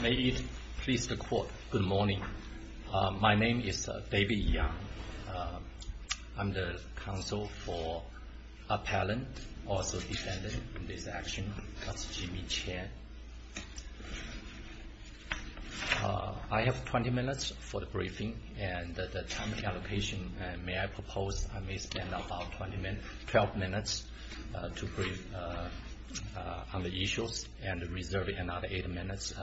May it please the Court, good morning. My name is David Yeung. I'm the counsel for Appellant, also defendant in this action. That's Jimmy Chan. I have 20 minutes for the briefing and the time allocation. May I propose I may spend about 12 minutes to brief on the issues and reserve another 8 minutes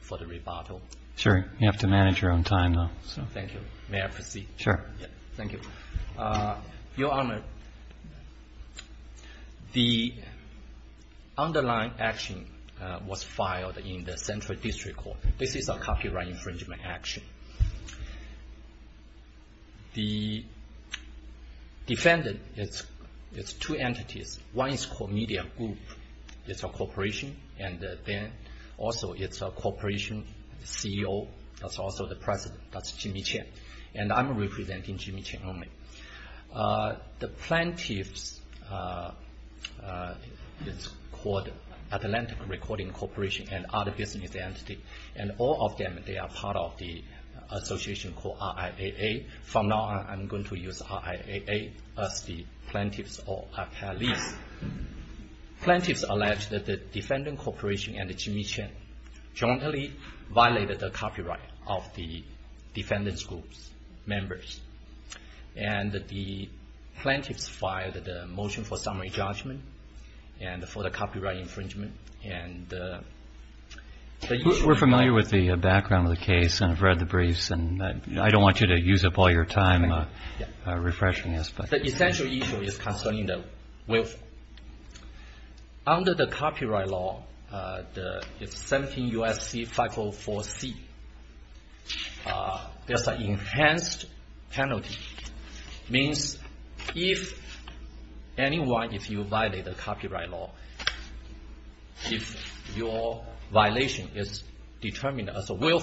for the rebuttal? Sure. You have to manage your own time, though. Thank you. May I proceed? Sure. Thank you. Your Honor, the underlying action was filed in the Central District Court. This is a copyright infringement action. The defendant is two entities. One is called Media Group. It's a corporation and then also it's a corporation CEO. That's also the president. That's Jimmy Chan. And I'm representing Jimmy Chan only. The plaintiffs, it's called Appellant Recording Corporation and other business entities. And all of them, they are part of the association called RIAA. From now on, I'm going to use RIAA as the plaintiffs or appellees. Plaintiffs allege that the defendant corporation and Jimmy Chan jointly violated the copyright of the defendant's group members. And the plaintiffs filed a motion for summary judgment and for the copyright infringement. We're familiar with the background of the case and have read the briefs. And I don't want you to use up all your time refreshing this. The essential issue is concerning the will. Under the copyright law, 17 U.S.C. 504C, there's an enhanced penalty. Means if anyone, if you violate the copyright law, if your violation is determined as a will,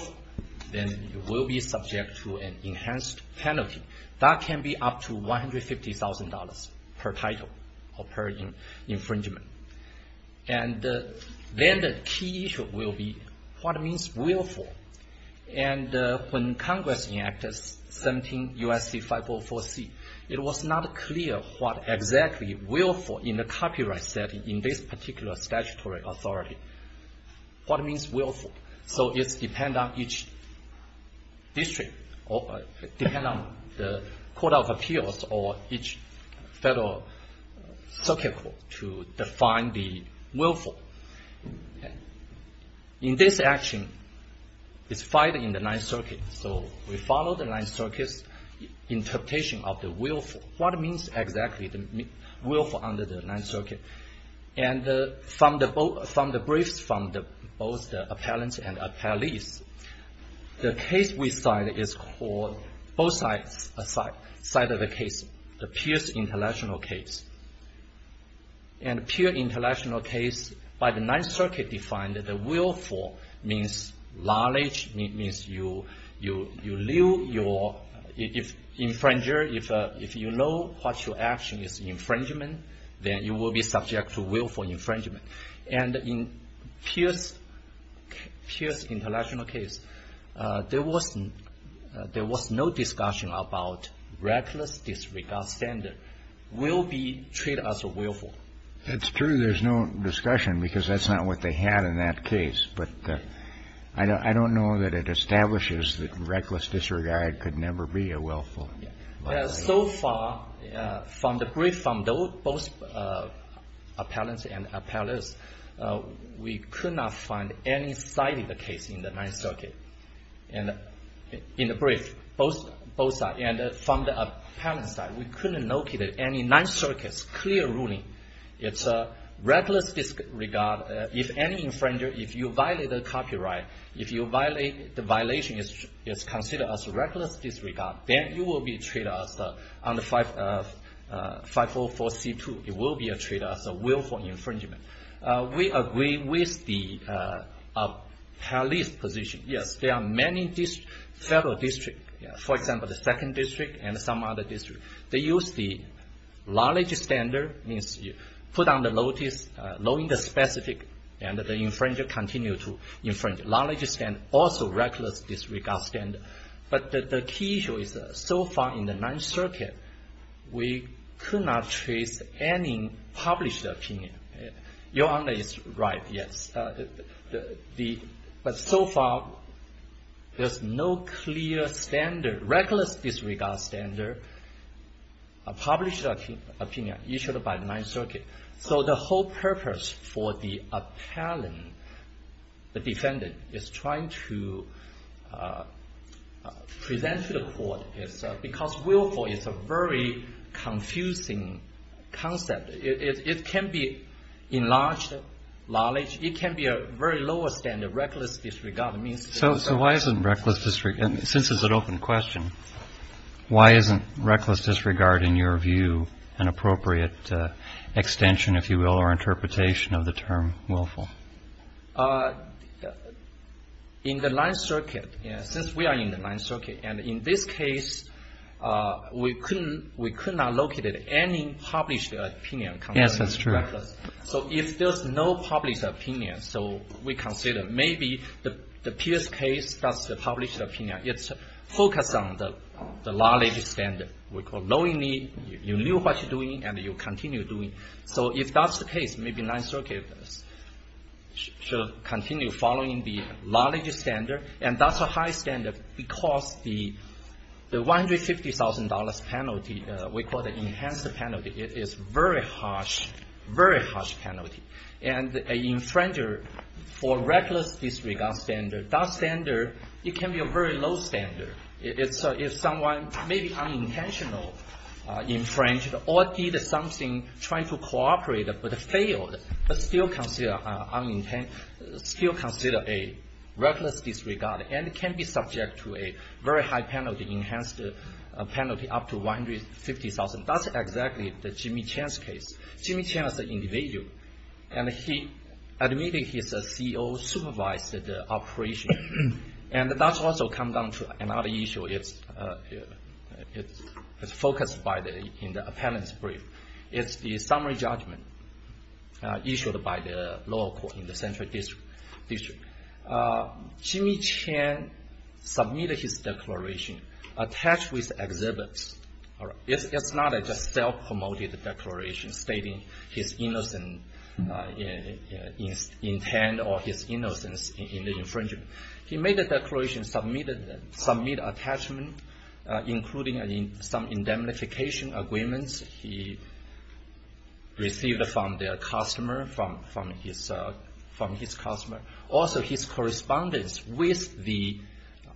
then you will be subject to an enhanced penalty. That can be up to $150,000 per title or per infringement. And then the key issue will be what means willful. And when Congress enacted 17 U.S.C. 504C, it was not clear what exactly willful in the copyright setting in this particular statutory authority. What means willful? So it depends on each district. It depends on the Court of Appeals or each federal circuit court to define the willful. In this action, it's filed in the Ninth Circuit. So we follow the Ninth Circuit's interpretation of the willful. What means exactly willful under the Ninth Circuit? And from the briefs from both the appellants and the appellees, the case we cite is called, both sides of the case, the Pierce International case. And the Pierce International case, by the Ninth Circuit defined, the willful means knowledge. Means you live your infringer. If you know what your action is infringement, then you will be subject to willful infringement. And in Pierce International case, there was no discussion about reckless disregard standard will be treated as a willful. It's true there's no discussion because that's not what they had in that case. But I don't know that it establishes that reckless disregard could never be a willful. So far, from the brief from both appellants and appellees, we could not find any cited case in the Ninth Circuit. And in the brief, both sides. And from the appellant's side, we couldn't locate any Ninth Circuit's clear ruling. It's reckless disregard. If any infringer, if you violate the copyright, if the violation is considered as reckless disregard, then you will be treated as under 544C2. It will be treated as a willful infringement. We agree with the appellee's position. Yes, there are many federal districts. For example, the second district and some other districts. They use the knowledge standard, put on the notice, knowing the specific, and the infringer continue to infringe. Knowledge standard, also reckless disregard standard. But the key issue is so far in the Ninth Circuit, we could not trace any published opinion. Your Honor is right, yes. But so far, there's no clear standard, reckless disregard standard, published opinion issued by the Ninth Circuit. So the whole purpose for the appellant, the defendant, is trying to present to the court is because willful is a very confusing concept. It can be enlarged knowledge. It can be a very lower standard, reckless disregard. So why isn't reckless disregard, since it's an open question, why isn't reckless disregard, in your view, an appropriate extension, if you will, or interpretation of the term willful? In the Ninth Circuit, since we are in the Ninth Circuit, and in this case, we could not locate any published opinion. Yes, that's true. So if there's no published opinion, so we consider maybe the Pierce case, that's the published opinion. It's focused on the knowledge standard. We call knowingly, you knew what you're doing, and you continue doing. So if that's the case, maybe Ninth Circuit should continue following the knowledge standard. And that's a high standard because the $150,000 penalty, we call the enhanced penalty, is very harsh, very harsh penalty. And an infringer, for reckless disregard standard, that standard, it can be a very low standard. If someone, maybe unintentional, infringed or did something, trying to cooperate, but failed, but still consider a reckless disregard, and can be subject to a very high penalty, enhanced penalty up to $150,000, that's exactly the Jimmy Chan's case. Jimmy Chan is an individual, and he admitted he's a CEO, supervised the operation. And that's also come down to another issue. It's focused in the appellant's brief. It's the summary judgment issued by the law court in the Central District. Jimmy Chan submitted his declaration attached with exhibits. It's not a just self-promoted declaration stating his innocent intent or his innocence in the infringement. He made a declaration, submitted attachment, including some indemnification agreements he received from their customer, from his customer. Also, his correspondence with the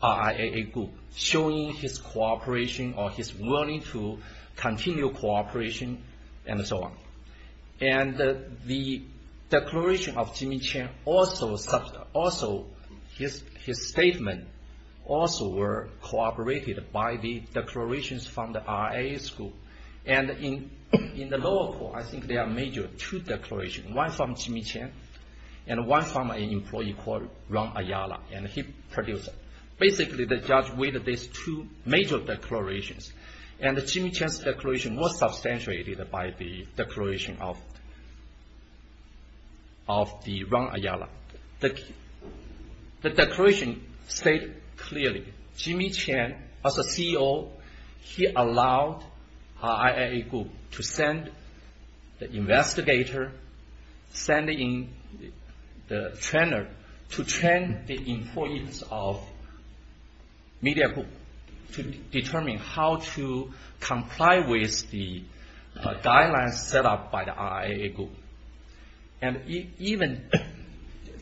RIA group, showing his cooperation or his willing to continue cooperation, and so on. And the declaration of Jimmy Chan also, his statement also were cooperated by the declarations from the RIA school. And in the law court, I think there are major two declarations. One from Jimmy Chan, and one from an employee called Ron Ayala, and he produced it. Basically, the judge weighted these two major declarations, and Jimmy Chan's declaration was substantiated by the declaration of Ron Ayala. The declaration stated clearly, Jimmy Chan, as a CEO, he allowed RIA group to send the investigator, send in the trainer, to train the employees of media group to determine how to comply with the guidelines set up by the RIA group. And even,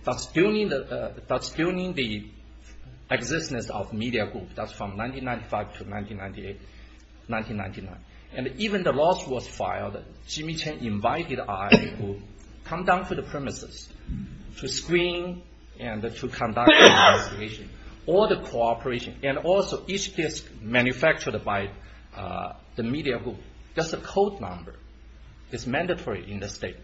that's during the existence of media group, that's from 1995 to 1998, 1999. And even the law was filed, Jimmy Chan invited RIA group to come down to the premises to screen and to conduct the investigation. All the cooperation, and also each disc manufactured by the media group, that's a code number. It's mandatory in the state.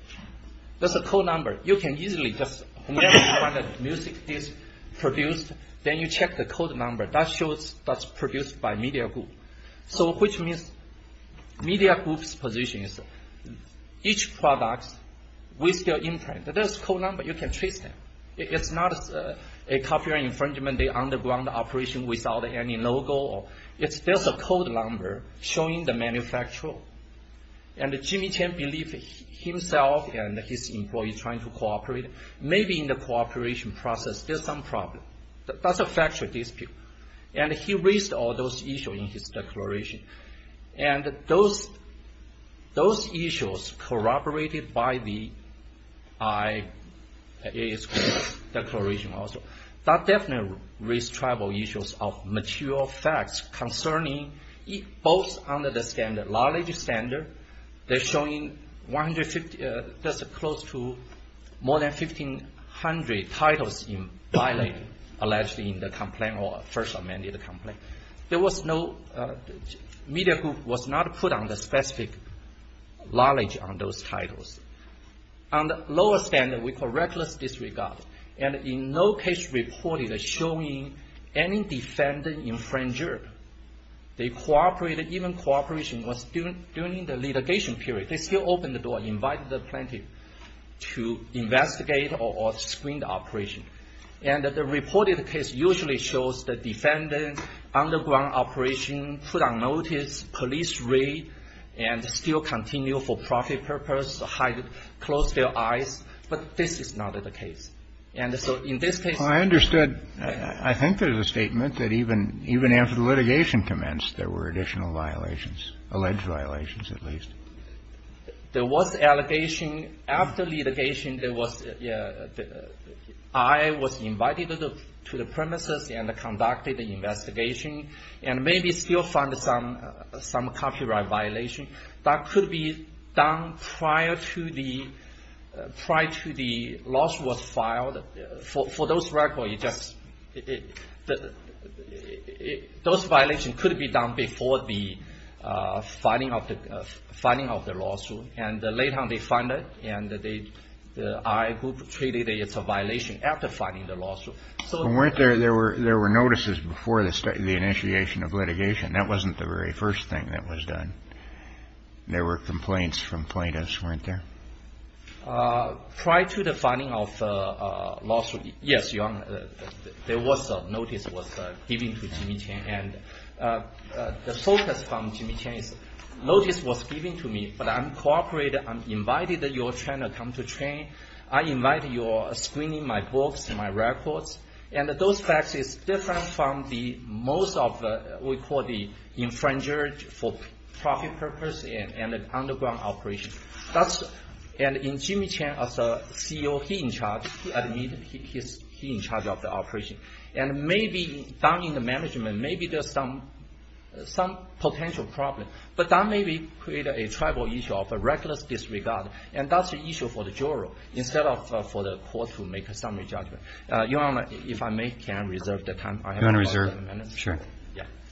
That's a code number. You can easily just, whenever you find a music disc produced, then you check the code number. That shows that's produced by media group. So, which means, media group's position is, each product, with their imprint, there's code number, you can trace them. It's not a copyright infringement, the underground operation without any logo. It's just a code number showing the manufacturer. And Jimmy Chan believed himself and his employees trying to cooperate. Maybe in the cooperation process there's some problem. That's a factual dispute. And he raised all those issues in his declaration. And those issues corroborated by the RIA's declaration also. That definitely raised tribal issues of material facts concerning both under the standard, knowledge standard. They're showing 150, that's close to more than 1,500 titles in violating allegedly in the complaint or first amended complaint. There was no, media group was not put on the specific knowledge on those titles. On the lower standard, we call reckless disregard. And in no case reported showing any defendant infringer. They cooperated, even cooperation was during the litigation period. They still opened the door, invited the plaintiff to investigate or screen the operation. And the reported case usually shows the defendant, underground operation, put on notice, police raid. And still continue for profit purpose, hide, close their eyes. But this is not the case. And so in this case. I understood. I think there's a statement that even after the litigation commenced, there were additional violations, alleged violations at least. There was allegation. After litigation, there was, RIA was invited to the premises and conducted an investigation. And maybe still found some copyright violation. That could be done prior to the, prior to the loss was filed. For those records, you just, those violations could be done before the filing of the lawsuit. And later on they find it and the RIA group treated it as a violation after filing the lawsuit. So weren't there, there were notices before the initiation of litigation. That wasn't the very first thing that was done. There were complaints from plaintiffs, weren't there? Prior to the filing of the lawsuit. Yes, Your Honor. There was a notice was given to Jimmy Chang. And the focus from Jimmy Chang is, notice was given to me. But I'm cooperating. I'm invited that you're trying to come to train. I invited your screening my books and my records. And those facts is different from the most of what we call the infringer for profit purpose and an underground operation. That's, and in Jimmy Chang as a CEO, he in charge. He admitted he's in charge of the operation. And maybe down in the management, maybe there's some, some potential problem. But that maybe create a tribal issue of a reckless disregard. And that's an issue for the juror instead of for the court to make a summary judgment. Your Honor, if I may, can I reserve the time? You want to reserve? Sure.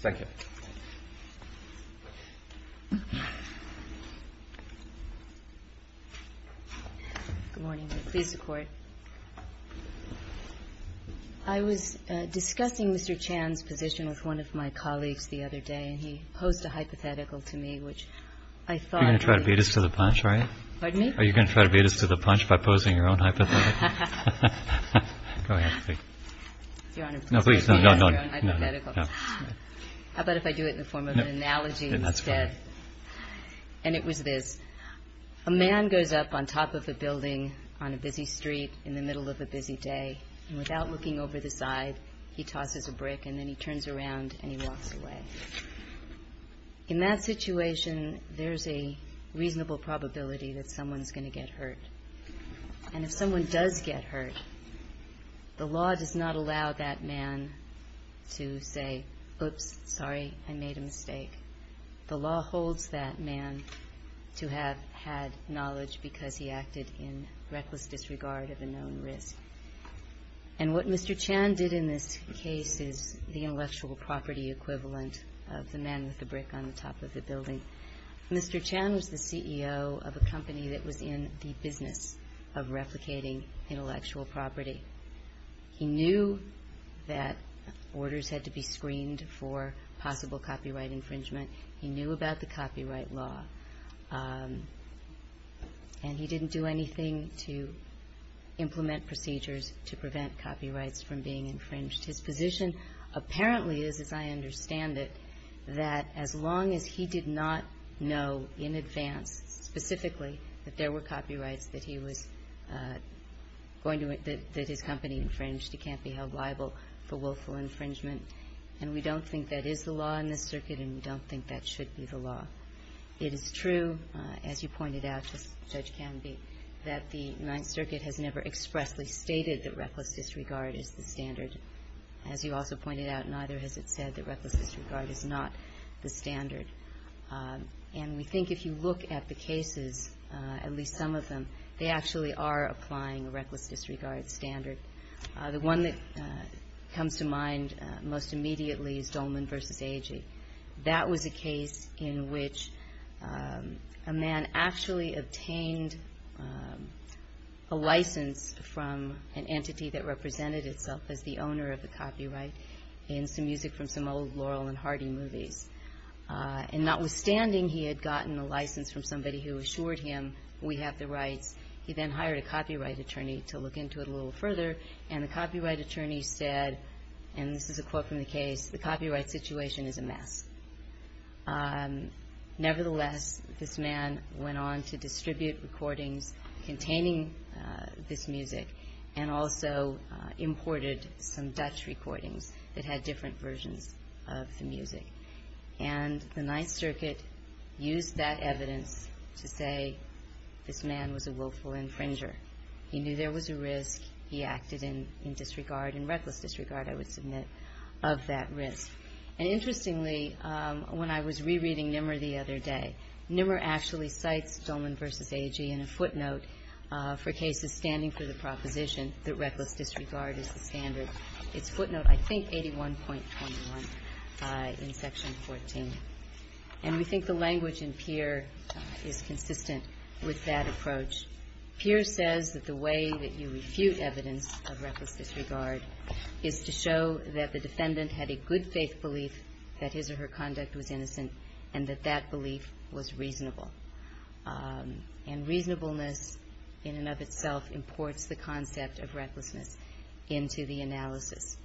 Thank you. Good morning. Please, the court. I was discussing Mr. Chang's position with one of my colleagues the other day. And he posed a hypothetical to me, which I thought. You're going to try to beat us to the punch, right? Pardon me? Are you going to try to beat us to the punch by posing your own hypothetical? Go ahead. Your Honor, please. No, no, no. How about if I do it in the form of an analogy instead? That's fine. And it was this. A man goes up on top of a building on a busy street in the middle of a busy day. And without looking over the side, he tosses a brick and then he turns around and he walks away. In that situation, there's a reasonable probability that someone's going to get hurt. And if someone does get hurt, the law does not allow that man to say, Oops, sorry, I made a mistake. The law holds that man to have had knowledge because he acted in reckless disregard of a known risk. And what Mr. Chang did in this case is the intellectual property equivalent of the man with the brick on the top of the building. Mr. Chang was the CEO of a company that was in the business of replicating intellectual property. He knew that orders had to be screened for possible copyright infringement. He knew about the copyright law. And he didn't do anything to implement procedures to prevent copyrights from being infringed. His position apparently is, as I understand it, that as long as he did not know in advance, specifically, that there were copyrights that his company infringed, he can't be held liable for willful infringement. And we don't think that is the law in this circuit and we don't think that should be the law. It is true, as you pointed out, Judge Canby, that the Ninth Circuit has never expressly stated that reckless disregard is the standard. As you also pointed out, neither has it said that reckless disregard is not the standard. And we think if you look at the cases, at least some of them, they actually are applying a reckless disregard standard. The one that comes to mind most immediately is Dolman v. Agee. That was a case in which a man actually obtained a license from an entity that represented itself as the owner of the copyright in some music from some old Laurel and Hardy movies. And notwithstanding he had gotten a license from somebody who assured him, we have the rights, he then hired a copyright attorney to look into it a little further. And the copyright attorney said, and this is a quote from the case, the copyright situation is a mess. Nevertheless, this man went on to distribute recordings containing this music and also imported some Dutch recordings that had different versions of the music. And the Ninth Circuit used that evidence to say this man was a willful infringer. He knew there was a risk, he acted in disregard, in reckless disregard I would submit, of that risk. And interestingly, when I was rereading Nimmer the other day, Nimmer actually cites Dolman v. Agee in a footnote for cases standing for the proposition that reckless disregard is the standard. It's footnote, I think, 81.21 in Section 14. And we think the language in Peer is consistent with that approach. Peer says that the way that you refute evidence of reckless disregard is to show that the defendant had a good faith belief that his or her conduct was innocent and that that belief was reasonable. And reasonableness in and of itself imports the concept of recklessness into the analysis.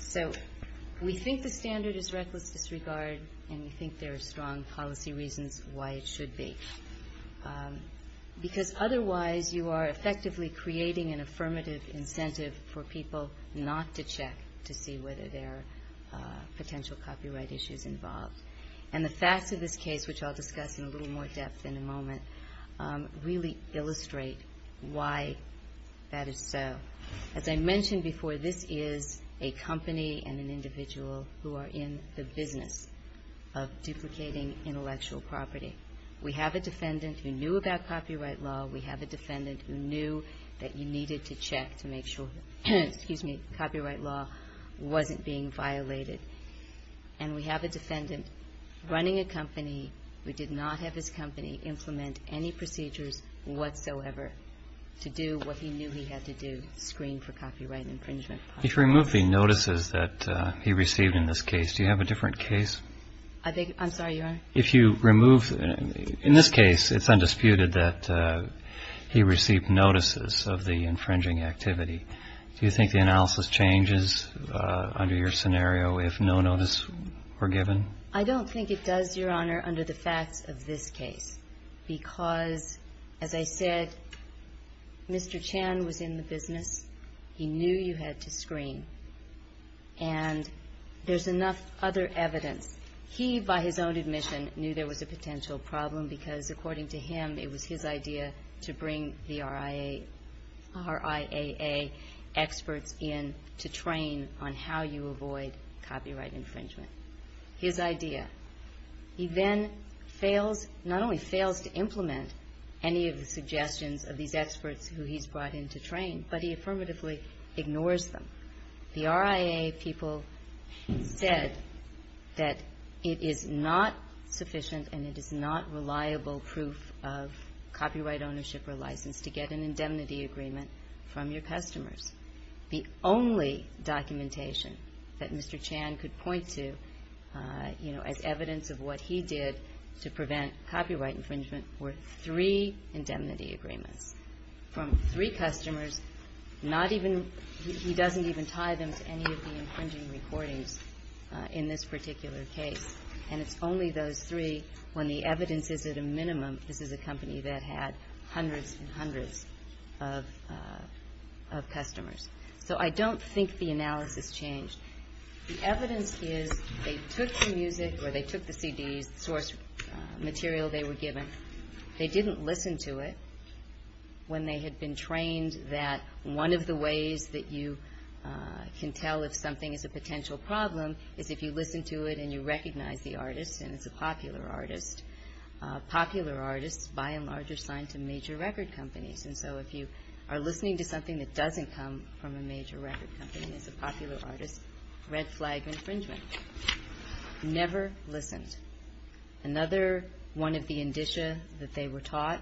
So we think the standard is reckless disregard and we think there are strong policy reasons why it should be. Because otherwise you are effectively creating an affirmative incentive for people not to check to see whether there are potential copyright issues involved. And the facts of this case, which I'll discuss in a little more depth in a moment, really illustrate why that is so. As I mentioned before, this is a company and an individual who are in the business of duplicating intellectual property. We have a defendant who knew about copyright law. We have a defendant who knew that you needed to check to make sure that copyright law wasn't being violated. And we have a defendant running a company who did not have his company implement any procedures whatsoever to do what he knew he had to do, screen for copyright infringement. If you remove the notices that he received in this case, do you have a different case? I'm sorry, Your Honor? If you remove, in this case it's undisputed that he received notices of the infringing activity. Do you think the analysis changes under your scenario if no notices were given? I don't think it does, Your Honor, under the facts of this case. Because, as I said, Mr. Chan was in the business. He knew you had to screen. And there's enough other evidence. He, by his own admission, knew there was a potential problem because, according to him, it was his idea to bring the RIAA experts in to train on how you avoid copyright infringement. His idea. He then fails, not only fails to implement any of the suggestions of these experts who he's brought in to train, but he affirmatively ignores them. The RIAA people said that it is not sufficient and it is not reliable proof of copyright ownership or license to get an indemnity agreement from your customers. The only documentation that Mr. Chan could point to, you know, as evidence of what he did to prevent copyright infringement, were three indemnity agreements. From three customers, not even, he doesn't even tie them to any of the infringing recordings in this particular case. And it's only those three when the evidence is at a minimum, this is a company that had hundreds and hundreds of customers. So I don't think the analysis changed. The evidence is they took the music or they took the CDs, the source material they were given. They didn't listen to it when they had been trained that one of the ways that you can tell if something is a potential problem is if you listen to it and you recognize the artist and it's a popular artist. Popular artists by and large are signed to major record companies. And so if you are listening to something that doesn't come from a major record company, it's a popular artist, red flag infringement. Never listened. Another one of the indicia that they were taught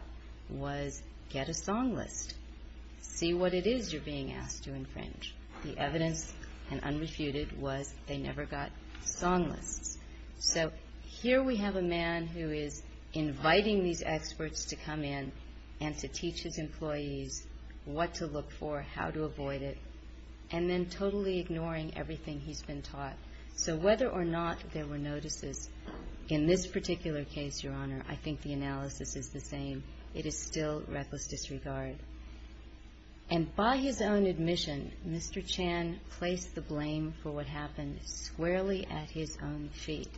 was get a song list. See what it is you're being asked to infringe. The evidence, and unrefuted, was they never got song lists. So here we have a man who is inviting these experts to come in and to teach his employees what to look for, how to avoid it, and then totally ignoring everything he's been taught. So whether or not there were notices, in this particular case, Your Honor, I think the analysis is the same. It is still reckless disregard. And by his own admission, Mr. Chan placed the blame for what happened squarely at his own feet.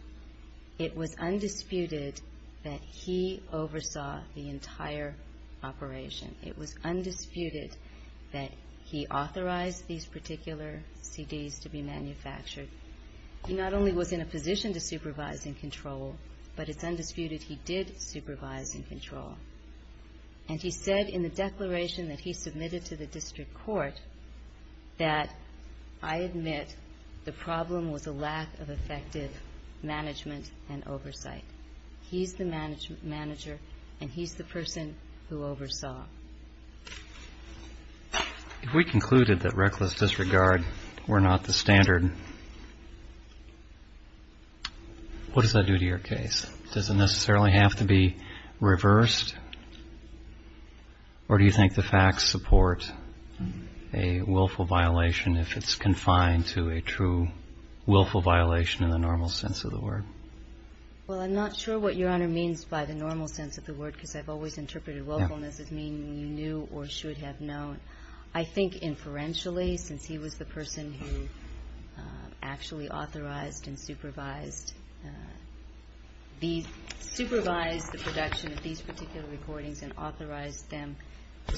It was undisputed that he oversaw the entire operation. It was undisputed that he authorized these particular CDs to be manufactured. He not only was in a position to supervise and control, but it's undisputed he did supervise and control. And he said in the declaration that he submitted to the district court that, I admit, the problem was a lack of effective management and oversight. He's the manager, and he's the person who oversaw. If we concluded that reckless disregard were not the standard, what does that do to your case? Does it necessarily have to be reversed, or do you think the facts support a willful violation if it's confined to a true willful violation in the normal sense of the word? Well, I'm not sure what Your Honor means by the normal sense of the word, because I've always interpreted willfulness as meaning you knew or should have known. I think inferentially, since he was the person who actually authorized and supervised the production of these particular recordings and authorized them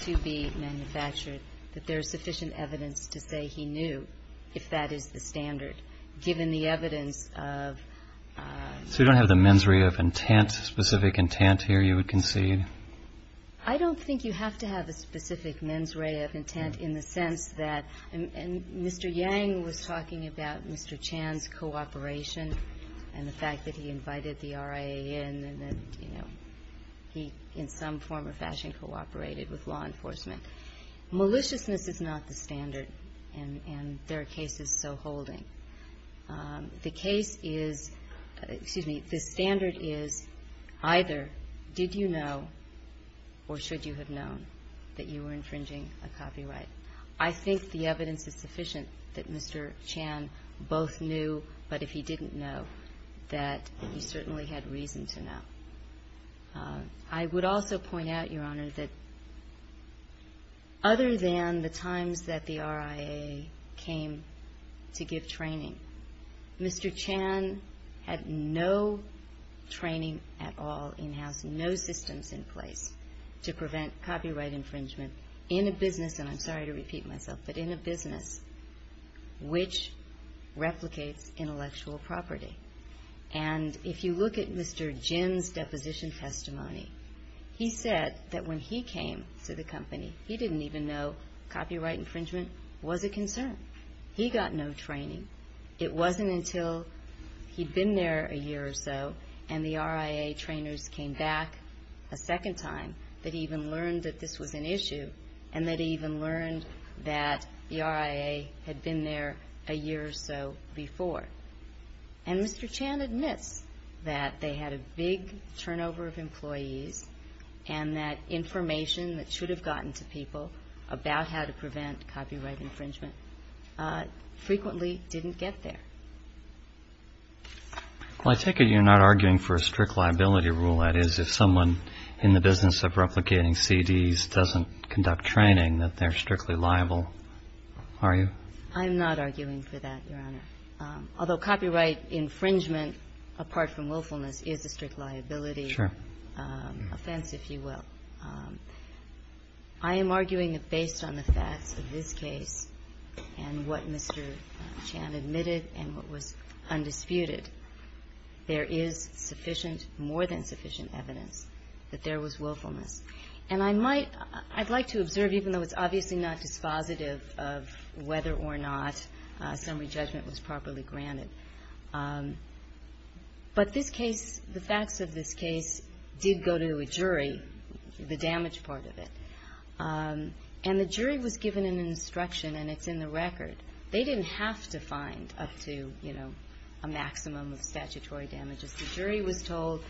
to be manufactured, that there is sufficient evidence to say he knew, if that is the standard, given the evidence of ---- So you don't have the mens rea of intent, specific intent here you would concede? I don't think you have to have a specific mens rea of intent in the sense that Mr. Yang was talking about Mr. Chan's cooperation and the fact that he invited the RIA in and that he, in some form or fashion, cooperated with law enforcement. Maliciousness is not the standard, and there are cases so holding. The case is, excuse me, the standard is either did you know or should you have known that you were infringing a copyright. I think the evidence is sufficient that Mr. Chan both knew, but if he didn't know, that he certainly had reason to know. I would also point out, Your Honor, that other than the times that the RIA came to give training, Mr. Chan had no training at all in-house, no systems in place to prevent copyright infringement in a business, and I'm sorry to repeat myself, but in a business which replicates intellectual property. And if you look at Mr. Jin's deposition testimony, he said that when he came to the company, he didn't even know copyright infringement was a concern. He got no training. It wasn't until he'd been there a year or so and the RIA trainers came back a second time that he even learned that this was an issue and that he even learned that the RIA had been there a year or so before. And Mr. Chan admits that they had a big turnover of employees and that information that should have gotten to people about how to prevent copyright infringement frequently didn't get there. Well, I take it you're not arguing for a strict liability rule, that is, if someone in the business of replicating CDs doesn't conduct training, that they're strictly liable, are you? I'm not arguing for that, Your Honor. Although copyright infringement, apart from willfulness, is a strict liability offense, if you will. I am arguing that based on the facts of this case and what Mr. Chan admitted and what was undisputed, there is sufficient, more than sufficient evidence that there was willfulness. And I might, I'd like to observe, even though it's obviously not dispositive of whether or not summary judgment was properly granted, but this case, the facts of this case did go to a jury, the damage part of it, and the jury was given an instruction and it's in the record. They didn't have to find up to, you know, a maximum of statutory damages. The jury was told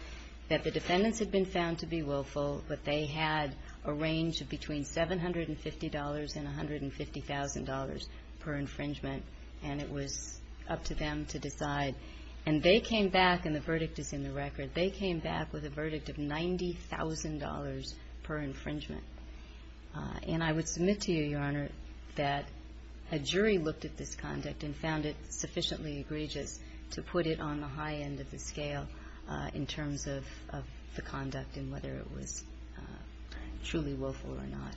that the defendants had been found to be willful, but they had a range of between $750,000 and $150,000 per infringement, and it was up to them to decide. And they came back, and the verdict is in the record, they came back with a verdict of $90,000 per infringement. And I would submit to you, Your Honor, that a jury looked at this conduct and found it sufficiently egregious to put it on the high end of the scale in terms of the conduct and whether it was truly willful or not.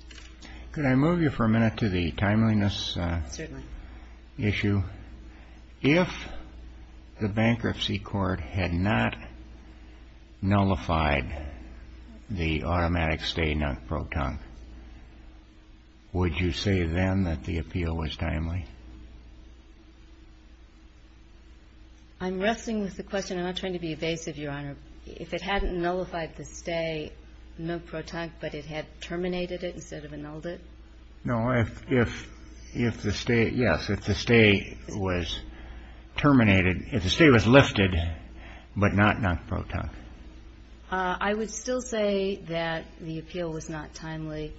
Could I move you for a minute to the timeliness issue? Certainly. If the bankruptcy court had not nullified the automatic stay not pro tonque, would you say then that the appeal was timely? I'm wrestling with the question. I'm not trying to be evasive, Your Honor. If it hadn't nullified the stay not pro tonque, but it had terminated it instead of annulled it? No. If the stay, yes, if the stay was terminated, if the stay was lifted but not not pro tonque. I would still say that the appeal was not timely.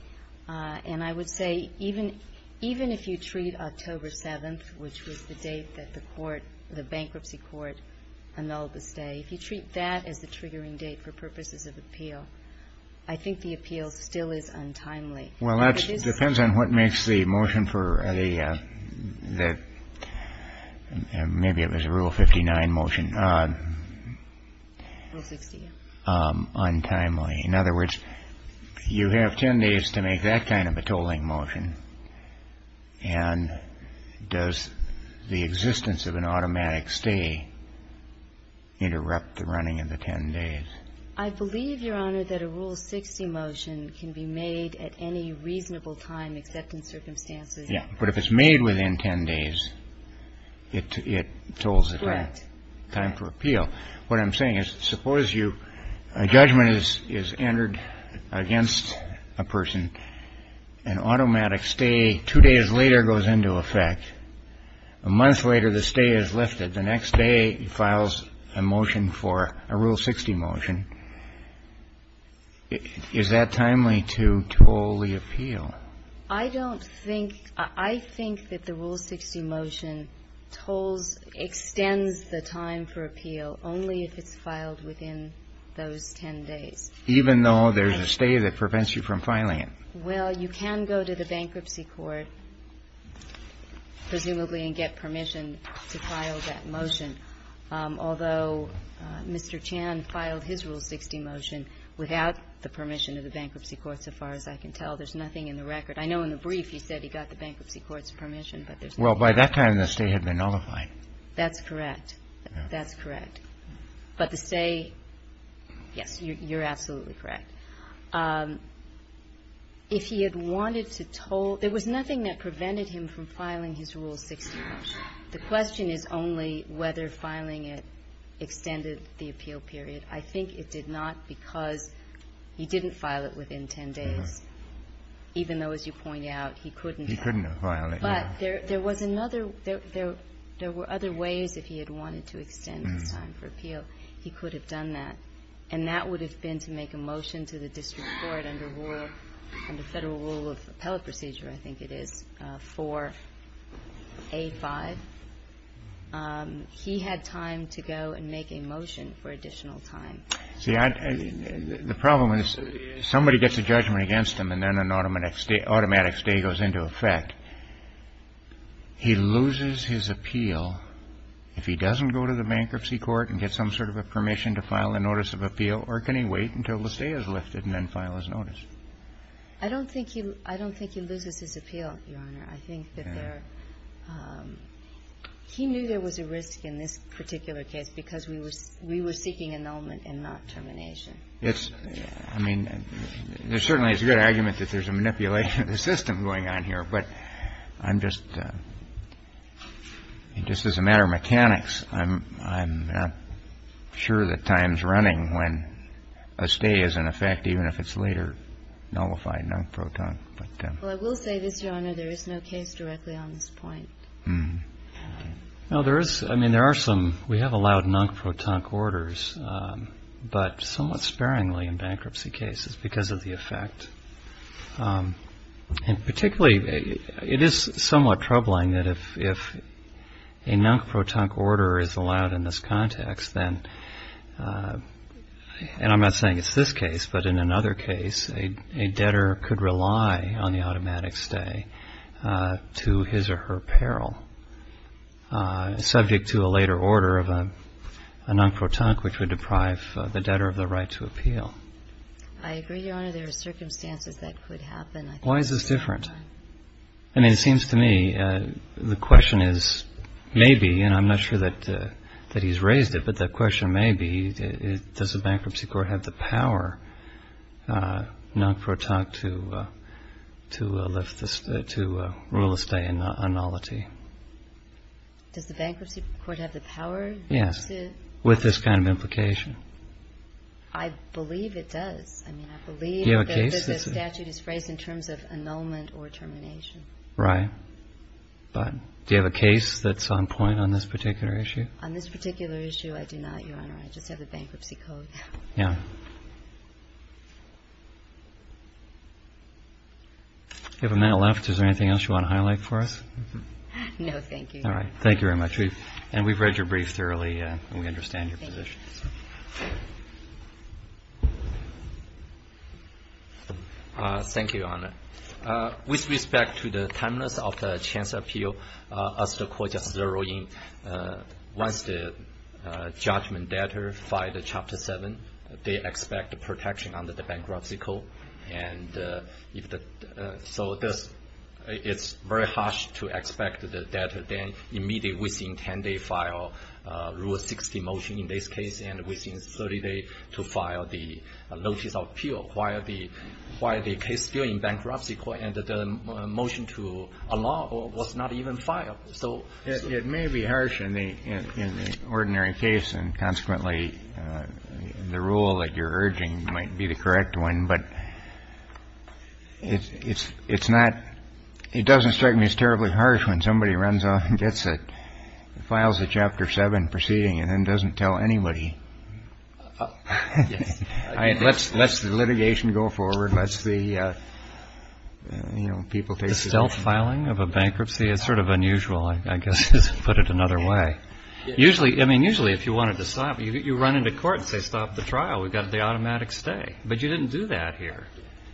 And I would say even if you treat October 7th, which was the date that the court or the bankruptcy court annulled the stay, if you treat that as the triggering date for purposes of appeal, I think the appeal still is untimely. Well, that depends on what makes the motion for the rule 59 motion untimely. In other words, you have 10 days to make that kind of a tolling motion. And does the existence of an automatic stay interrupt the running of the 10 days? I believe, Your Honor, that a Rule 60 motion can be made at any reasonable time, except in circumstances. Yes. But if it's made within 10 days, it tolls it back. Correct. Time for appeal. Well, what I'm saying is, suppose you – a judgment is entered against a person, an automatic stay two days later goes into effect. A month later, the stay is lifted. The next day, it files a motion for a Rule 60 motion. Is that timely to toll the appeal? I don't think – I think that the Rule 60 motion tolls – extends the time for appeal only if it's filed within those 10 days. Even though there's a stay that prevents you from filing it? Well, you can go to the bankruptcy court, presumably, and get permission to file that motion. Although Mr. Chan filed his Rule 60 motion without the permission of the bankruptcy court, so far as I can tell. There's nothing in the record. I know in the brief you said he got the bankruptcy court's permission, but there's nothing in the record. Well, by that time, the stay had been nullified. That's correct. That's correct. But the stay – yes, you're absolutely correct. If he had wanted to toll – there was nothing that prevented him from filing his Rule 60 motion. The question is only whether filing it extended the appeal period. I think it did not because he didn't file it within 10 days, even though, as you point out, he couldn't have. He couldn't have filed it. But there was another – there were other ways if he had wanted to extend the time for appeal. He could have done that. And that would have been to make a motion to the district court under Federal Rule of Appellate Procedure, I think it is, 485. He had time to go and make a motion for additional time. See, the problem is somebody gets a judgment against him and then an automatic stay goes into effect. He loses his appeal if he doesn't go to the bankruptcy court and get some sort of a permission to file a notice of appeal, or can he wait until the stay is lifted and then file his notice? I don't think he loses his appeal, Your Honor. I think that there – he knew there was a risk in this particular case because we were seeking annulment and not termination. Yes. I mean, certainly it's a good argument that there's a manipulation of the system going on here. But I'm just – just as a matter of mechanics, I'm not sure that time is running when a stay is in effect, even if it's later nullified, non-proton. Well, I will say this, Your Honor, there is no case directly on this point. No, there is – I mean, there are some. We have allowed non-proton orders, but somewhat sparingly in bankruptcy cases because of the effect. And particularly, it is somewhat troubling that if a non-proton order is allowed in this context, then – and I'm not saying it's this case, but in another case, a debtor could rely on the automatic stay to his or her peril, subject to a later order of a non-proton which would deprive the debtor of the right to I agree, Your Honor. There are circumstances that could happen. Why is this different? I mean, it seems to me the question is maybe, and I'm not sure that he's raised it, but the question may be, does the bankruptcy court have the power, non-proton, to lift this – to rule a stay in nullity? Does the bankruptcy court have the power? Yes, with this kind of implication. I believe it does. I mean, I believe that the statute is phrased in terms of annulment or termination. Right. But do you have a case that's on point on this particular issue? On this particular issue, I do not, Your Honor. I just have the bankruptcy code. Yeah. Do you have a minute left? Is there anything else you want to highlight for us? No, thank you. All right. Thank you very much. And we've read your brief thoroughly, and we understand your position. Thank you. Thank you, Your Honor. With respect to the timeliness of the chance appeal, as the court just zeroed in, once the judgment data filed in Chapter 7, they expect the protection under the bankruptcy code. And so it's very harsh to expect the data then immediately within 10 days to file Rule 60 motion in this case, and within 30 days to file the notice of appeal. While the case still in bankruptcy court and the motion to allow was not even filed. So it may be harsh in the ordinary case. And consequently, the rule that you're urging might be the correct one. But it's not — it doesn't strike me as terribly harsh when somebody runs off and gets it, files a Chapter 7 proceeding, and then doesn't tell anybody. Yes. Let's let the litigation go forward. Let's the, you know, people take — The stealth filing of a bankruptcy is sort of unusual, I guess, to put it another way. Usually, I mean, usually if you wanted to stop, you run into court and say, stop the trial. We've got the automatic stay. But you didn't do that here.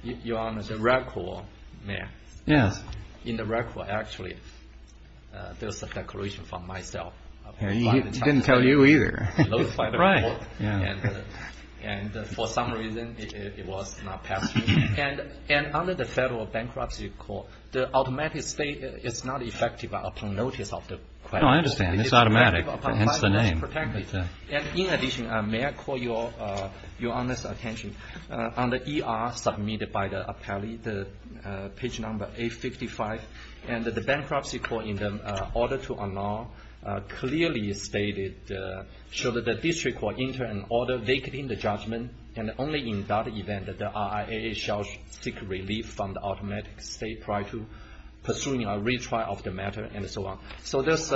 Your Honor, the record, may I? Yes. In the record, actually, there's a declaration from myself. He didn't tell you either. Right. And for some reason, it was not passed. And under the Federal Bankruptcy Court, the automatic stay is not effective upon notice of the claim. No, I understand. It's automatic. Hence the name. In addition, may I call your Honor's attention? On the ER submitted by the appellee, the page number 855, and the bankruptcy court in the order to annul clearly stated, should the district court enter an order vacating the judgment, and only in that event that the RIA shall seek relief from the automatic stay prior to pursuing a retrial of the matter, and so on. So there's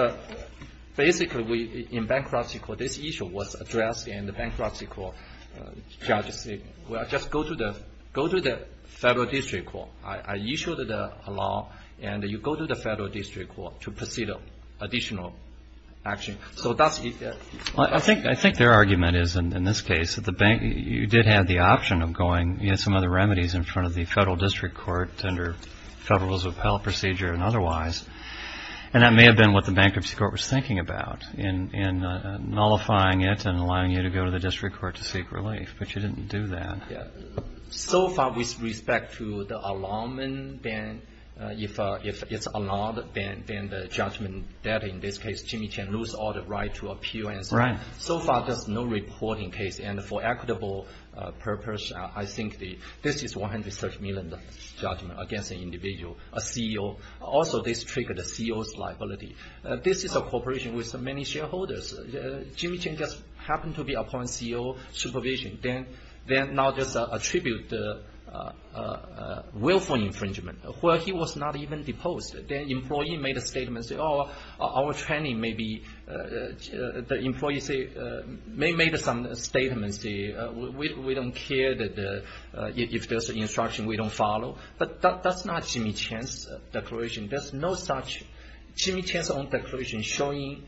basically, in bankruptcy court, this issue was addressed in the bankruptcy court. Well, just go to the Federal District Court. I issued the law, and you go to the Federal District Court to proceed with additional action. So that's it. I think their argument is, in this case, that you did have the option of going. You had some other remedies in front of the Federal District Court under Federalism of Appellate Procedure and otherwise. And that may have been what the bankruptcy court was thinking about, in nullifying it and allowing you to go to the district court to seek relief. But you didn't do that. Yeah. So far, with respect to the allotment, then if it's allowed, then the judgment that, in this case, Jimmy Chen lose all the right to appeal and so on. Right. So far, there's no reporting case. And for equitable purpose, I think this is $130 million judgment against an individual, a CEO. Also, this triggered a CEO's liability. This is a corporation with many shareholders. Jimmy Chen just happened to be appointing CEO supervision. Then now there's a tribute willful infringement, where he was not even deposed. The employee made a statement, said, oh, our training may be the employee made some statements. We don't care if there's an instruction we don't follow. But that's not Jimmy Chen's declaration. There's no such Jimmy Chen's own declaration showing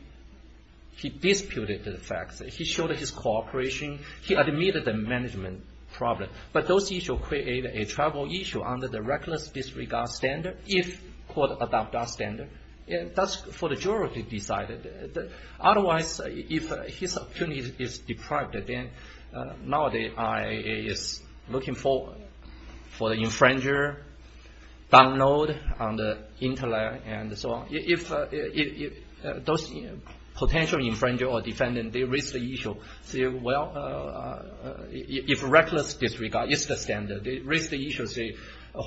he disputed the facts. He showed his cooperation. He admitted the management problem. But those issues create a tribal issue under the reckless disregard standard, if court adopt that standard. That's for the jury to decide. Otherwise, if his opportunity is deprived, then now the IAEA is looking for the infringer, download on the internet and so on. If those potential infringer or defendant, they raise the issue, say, well, if reckless disregard is the standard, they raise the issue, say,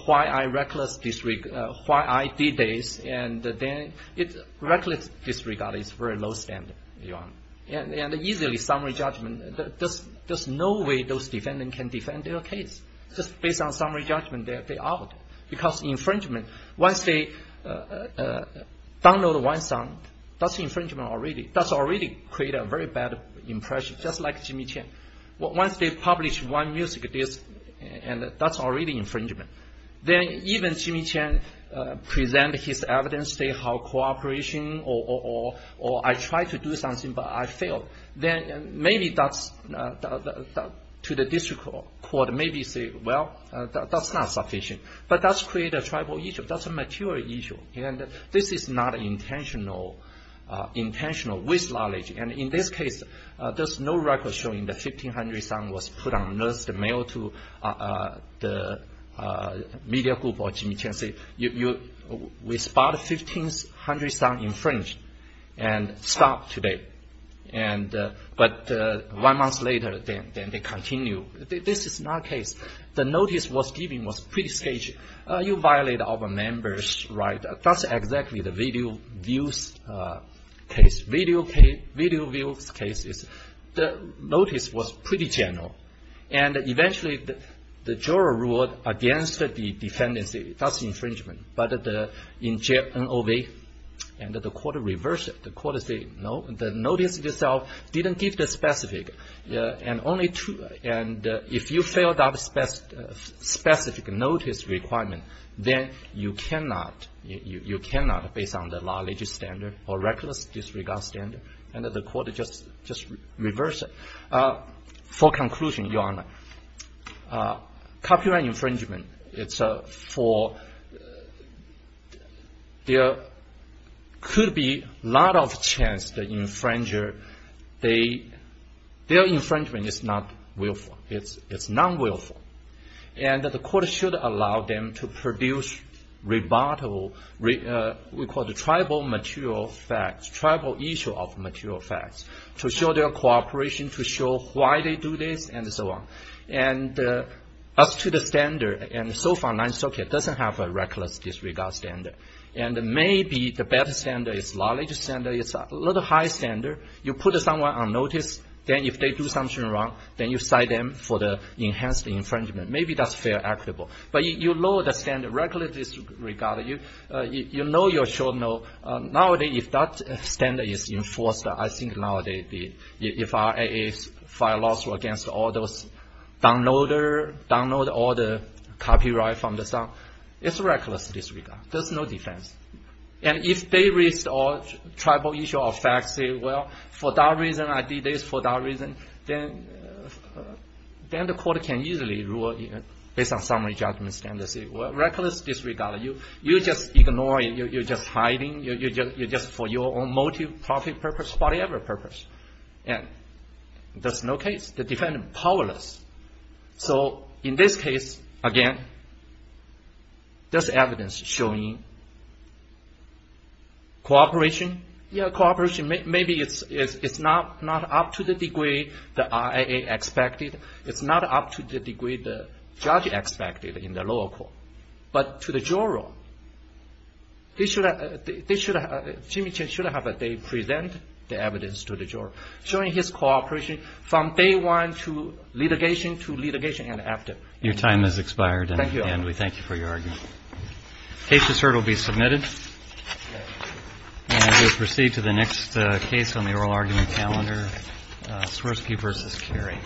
why I reckless disregard, why I did this, and then reckless disregard is very low standard. And easily summary judgment, there's no way those defendant can defend their case. Just based on summary judgment, they're out. Because infringement, once they download one song, that's infringement already. That's already created a very bad impression, just like Jimmy Chen. Once they publish one music disc, that's already infringement. Then even Jimmy Chen present his evidence, say, how cooperation or I tried to do something, but I failed. Then maybe that's, to the district court, maybe say, well, that's not sufficient. But that's create a tribal issue. That's a material issue. And this is not intentional, with knowledge. And in this case, there's no record showing the 1,500 song was put on notice, the mail to the media group or Jimmy Chen, say, we spot 1,500 song infringed and stop today. But one month later, then they continue. This is not case. The notice was given was pretty stagy. You violate our members, right? That's exactly the video views case. Video views case, the notice was pretty general. And eventually, the juror ruled against the defendants. That's infringement. But in NOV, the court reversed it. The court said, no, the notice itself didn't give the specific. And if you failed that specific notice requirement, then you cannot, based on the law, they just standard or reckless disregard standard. And the court just reversed it. For conclusion, Your Honor, copyright infringement, it's for, there could be a lot of chance the infringer, their infringement is not willful. It's non-willful. And the court should allow them to produce rebuttable, we call the tribal material facts, tribal issue of material facts, to show their cooperation, to show why they do this, and so on. And as to the standard, and so far, 9th Circuit doesn't have a reckless disregard standard. And maybe the better standard is knowledge standard. It's a little high standard. You put someone on notice. Then if they do something wrong, then you cite them for the enhanced infringement. Maybe that's fair and equitable. But you lower the standard, reckless disregard. You know you're short-noted. Nowadays, if that standard is enforced, I think nowadays, if RAAs file lawsuits against all those downloader, download all the copyright from the site, it's reckless disregard. There's no defense. And if they restore tribal issue of facts, say, well, for that reason, I did this for that reason, then the court can easily rule, based on summary judgment standard, say, well, reckless disregard. You just ignore it. You're just hiding. You're just for your own motive, profit purpose, whatever purpose. And there's no case. The defendant powerless. So in this case, again, there's evidence showing cooperation. Yeah, cooperation. Maybe it's not up to the degree the RAA expected. It's not up to the degree the judge expected in the lower court. But to the juror, Jimmy Chen should have a day present the evidence to the juror, showing his cooperation from day one to litigation to litigation and after. Your time has expired. Thank you. And we thank you for your argument. Case to serve will be submitted. And we'll proceed to the next case on the oral argument calendar, Swirsky v. Carey.